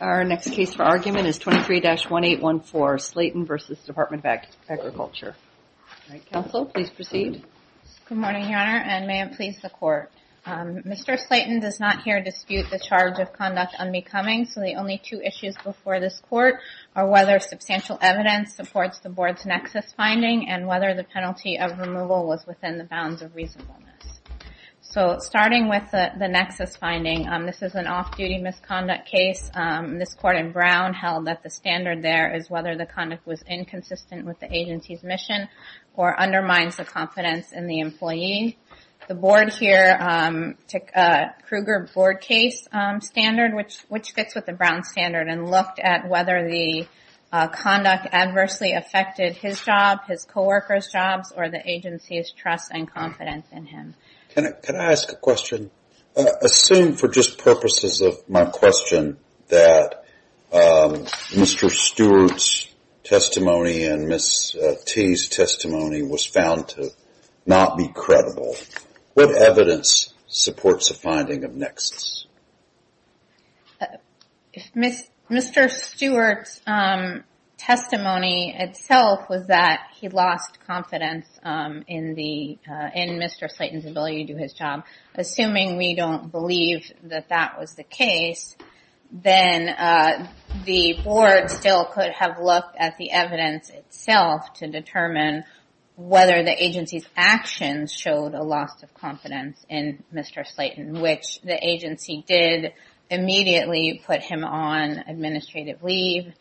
Our next case for argument is 23-1814, Slayton v. Department of Agriculture. Counsel, please proceed. Good morning, Your Honor, and may it please the Court. Mr. Slayton does not here dispute the charge of conduct unbecoming, so the only two issues before this Court are whether substantial evidence supports the Board's nexus finding and whether the penalty of removal was within the bounds of reasonableness. So, starting with the nexus finding, this is an off-duty misconduct case. This Court in Brown held that the standard there is whether the conduct was inconsistent with the agency's mission or undermines the confidence in the employee. The Board here took a Kruger board case standard, which fits with the Brown standard, and looked at whether the conduct adversely affected his job, his coworkers' jobs, or the agency's trust and confidence in him. Can I ask a question? Assume for just purposes of my question that Mr. Stewart's testimony and Ms. T's testimony was found to not be credible. What evidence supports the finding of nexus? If Mr. Stewart's testimony itself was that he lost confidence in Mr. Slayton's ability to do his job, assuming we don't believe that that was the case, then the Board still could have looked at the evidence itself to determine whether the agency's actions showed a loss of confidence in Mr. Slayton, which the agency did immediately put him on administrative leave.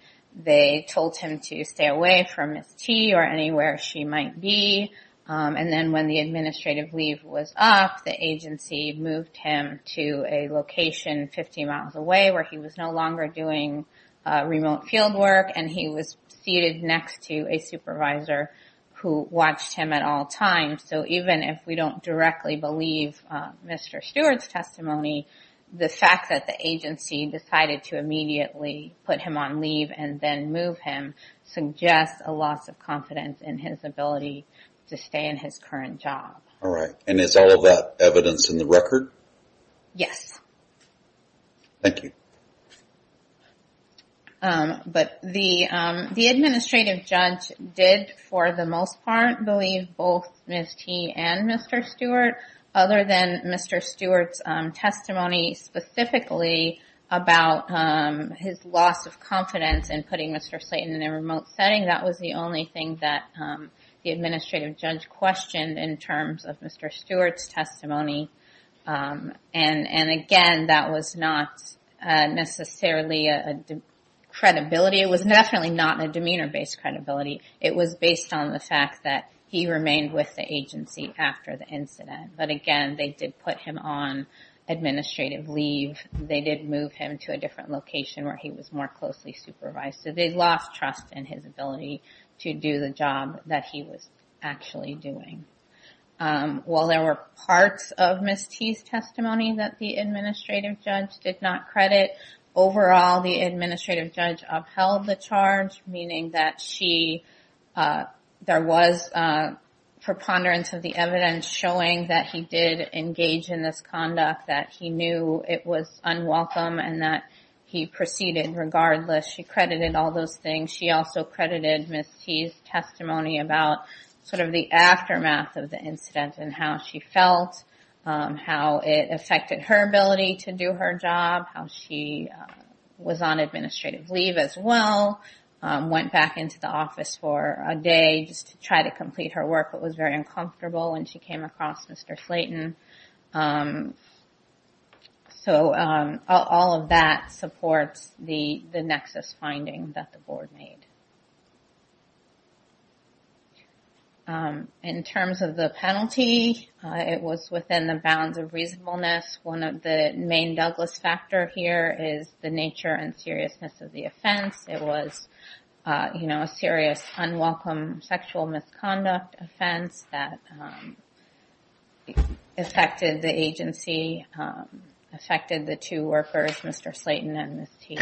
They told him to stay away from Ms. T or anywhere she might be. And then when the administrative leave was up, the agency moved him to a location 50 miles away where he was no longer doing remote field work, and he was seated next to a supervisor who watched him at all times. So even if we don't directly believe Mr. Stewart's testimony, the fact that the agency decided to immediately put him on leave and then move him suggests a loss of confidence in his ability to stay in his current job. All right. And is all of that evidence in the record? Yes. Thank you. But the administrative judge did, for the most part, believe both Ms. T and Mr. Stewart. Other than Mr. Stewart's testimony specifically about his loss of confidence in putting Mr. Slayton in a remote setting, that was the only thing that the administrative judge questioned in terms of Mr. Stewart's testimony. And, again, that was not necessarily a credibility. It was definitely not a demeanor-based credibility. It was based on the fact that he remained with the agency after the incident. But, again, they did put him on administrative leave. They did move him to a different location where he was more closely supervised. So they lost trust in his ability to do the job that he was actually doing. While there were parts of Ms. T's testimony that the administrative judge did not credit, overall the administrative judge upheld the charge, meaning that there was preponderance of the evidence showing that he did engage in this conduct, that he knew it was unwelcome, and that he proceeded regardless. She credited all those things. She also credited Ms. T's testimony about sort of the aftermath of the incident and how she felt, how it affected her ability to do her job, how she was on administrative leave as well, went back into the office for a day just to try to complete her work but was very uncomfortable when she came across Mr. Slayton. So all of that supports the nexus finding that the board made. In terms of the penalty, it was within the bounds of reasonableness. One of the main Douglas factor here is the nature and seriousness of the offense. It was a serious, unwelcome sexual misconduct offense that affected the agency, affected the two workers, Mr. Slayton and Ms. T.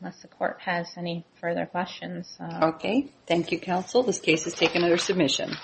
Unless the court has any further questions. Okay. Thank you, counsel. This case is taken under submission.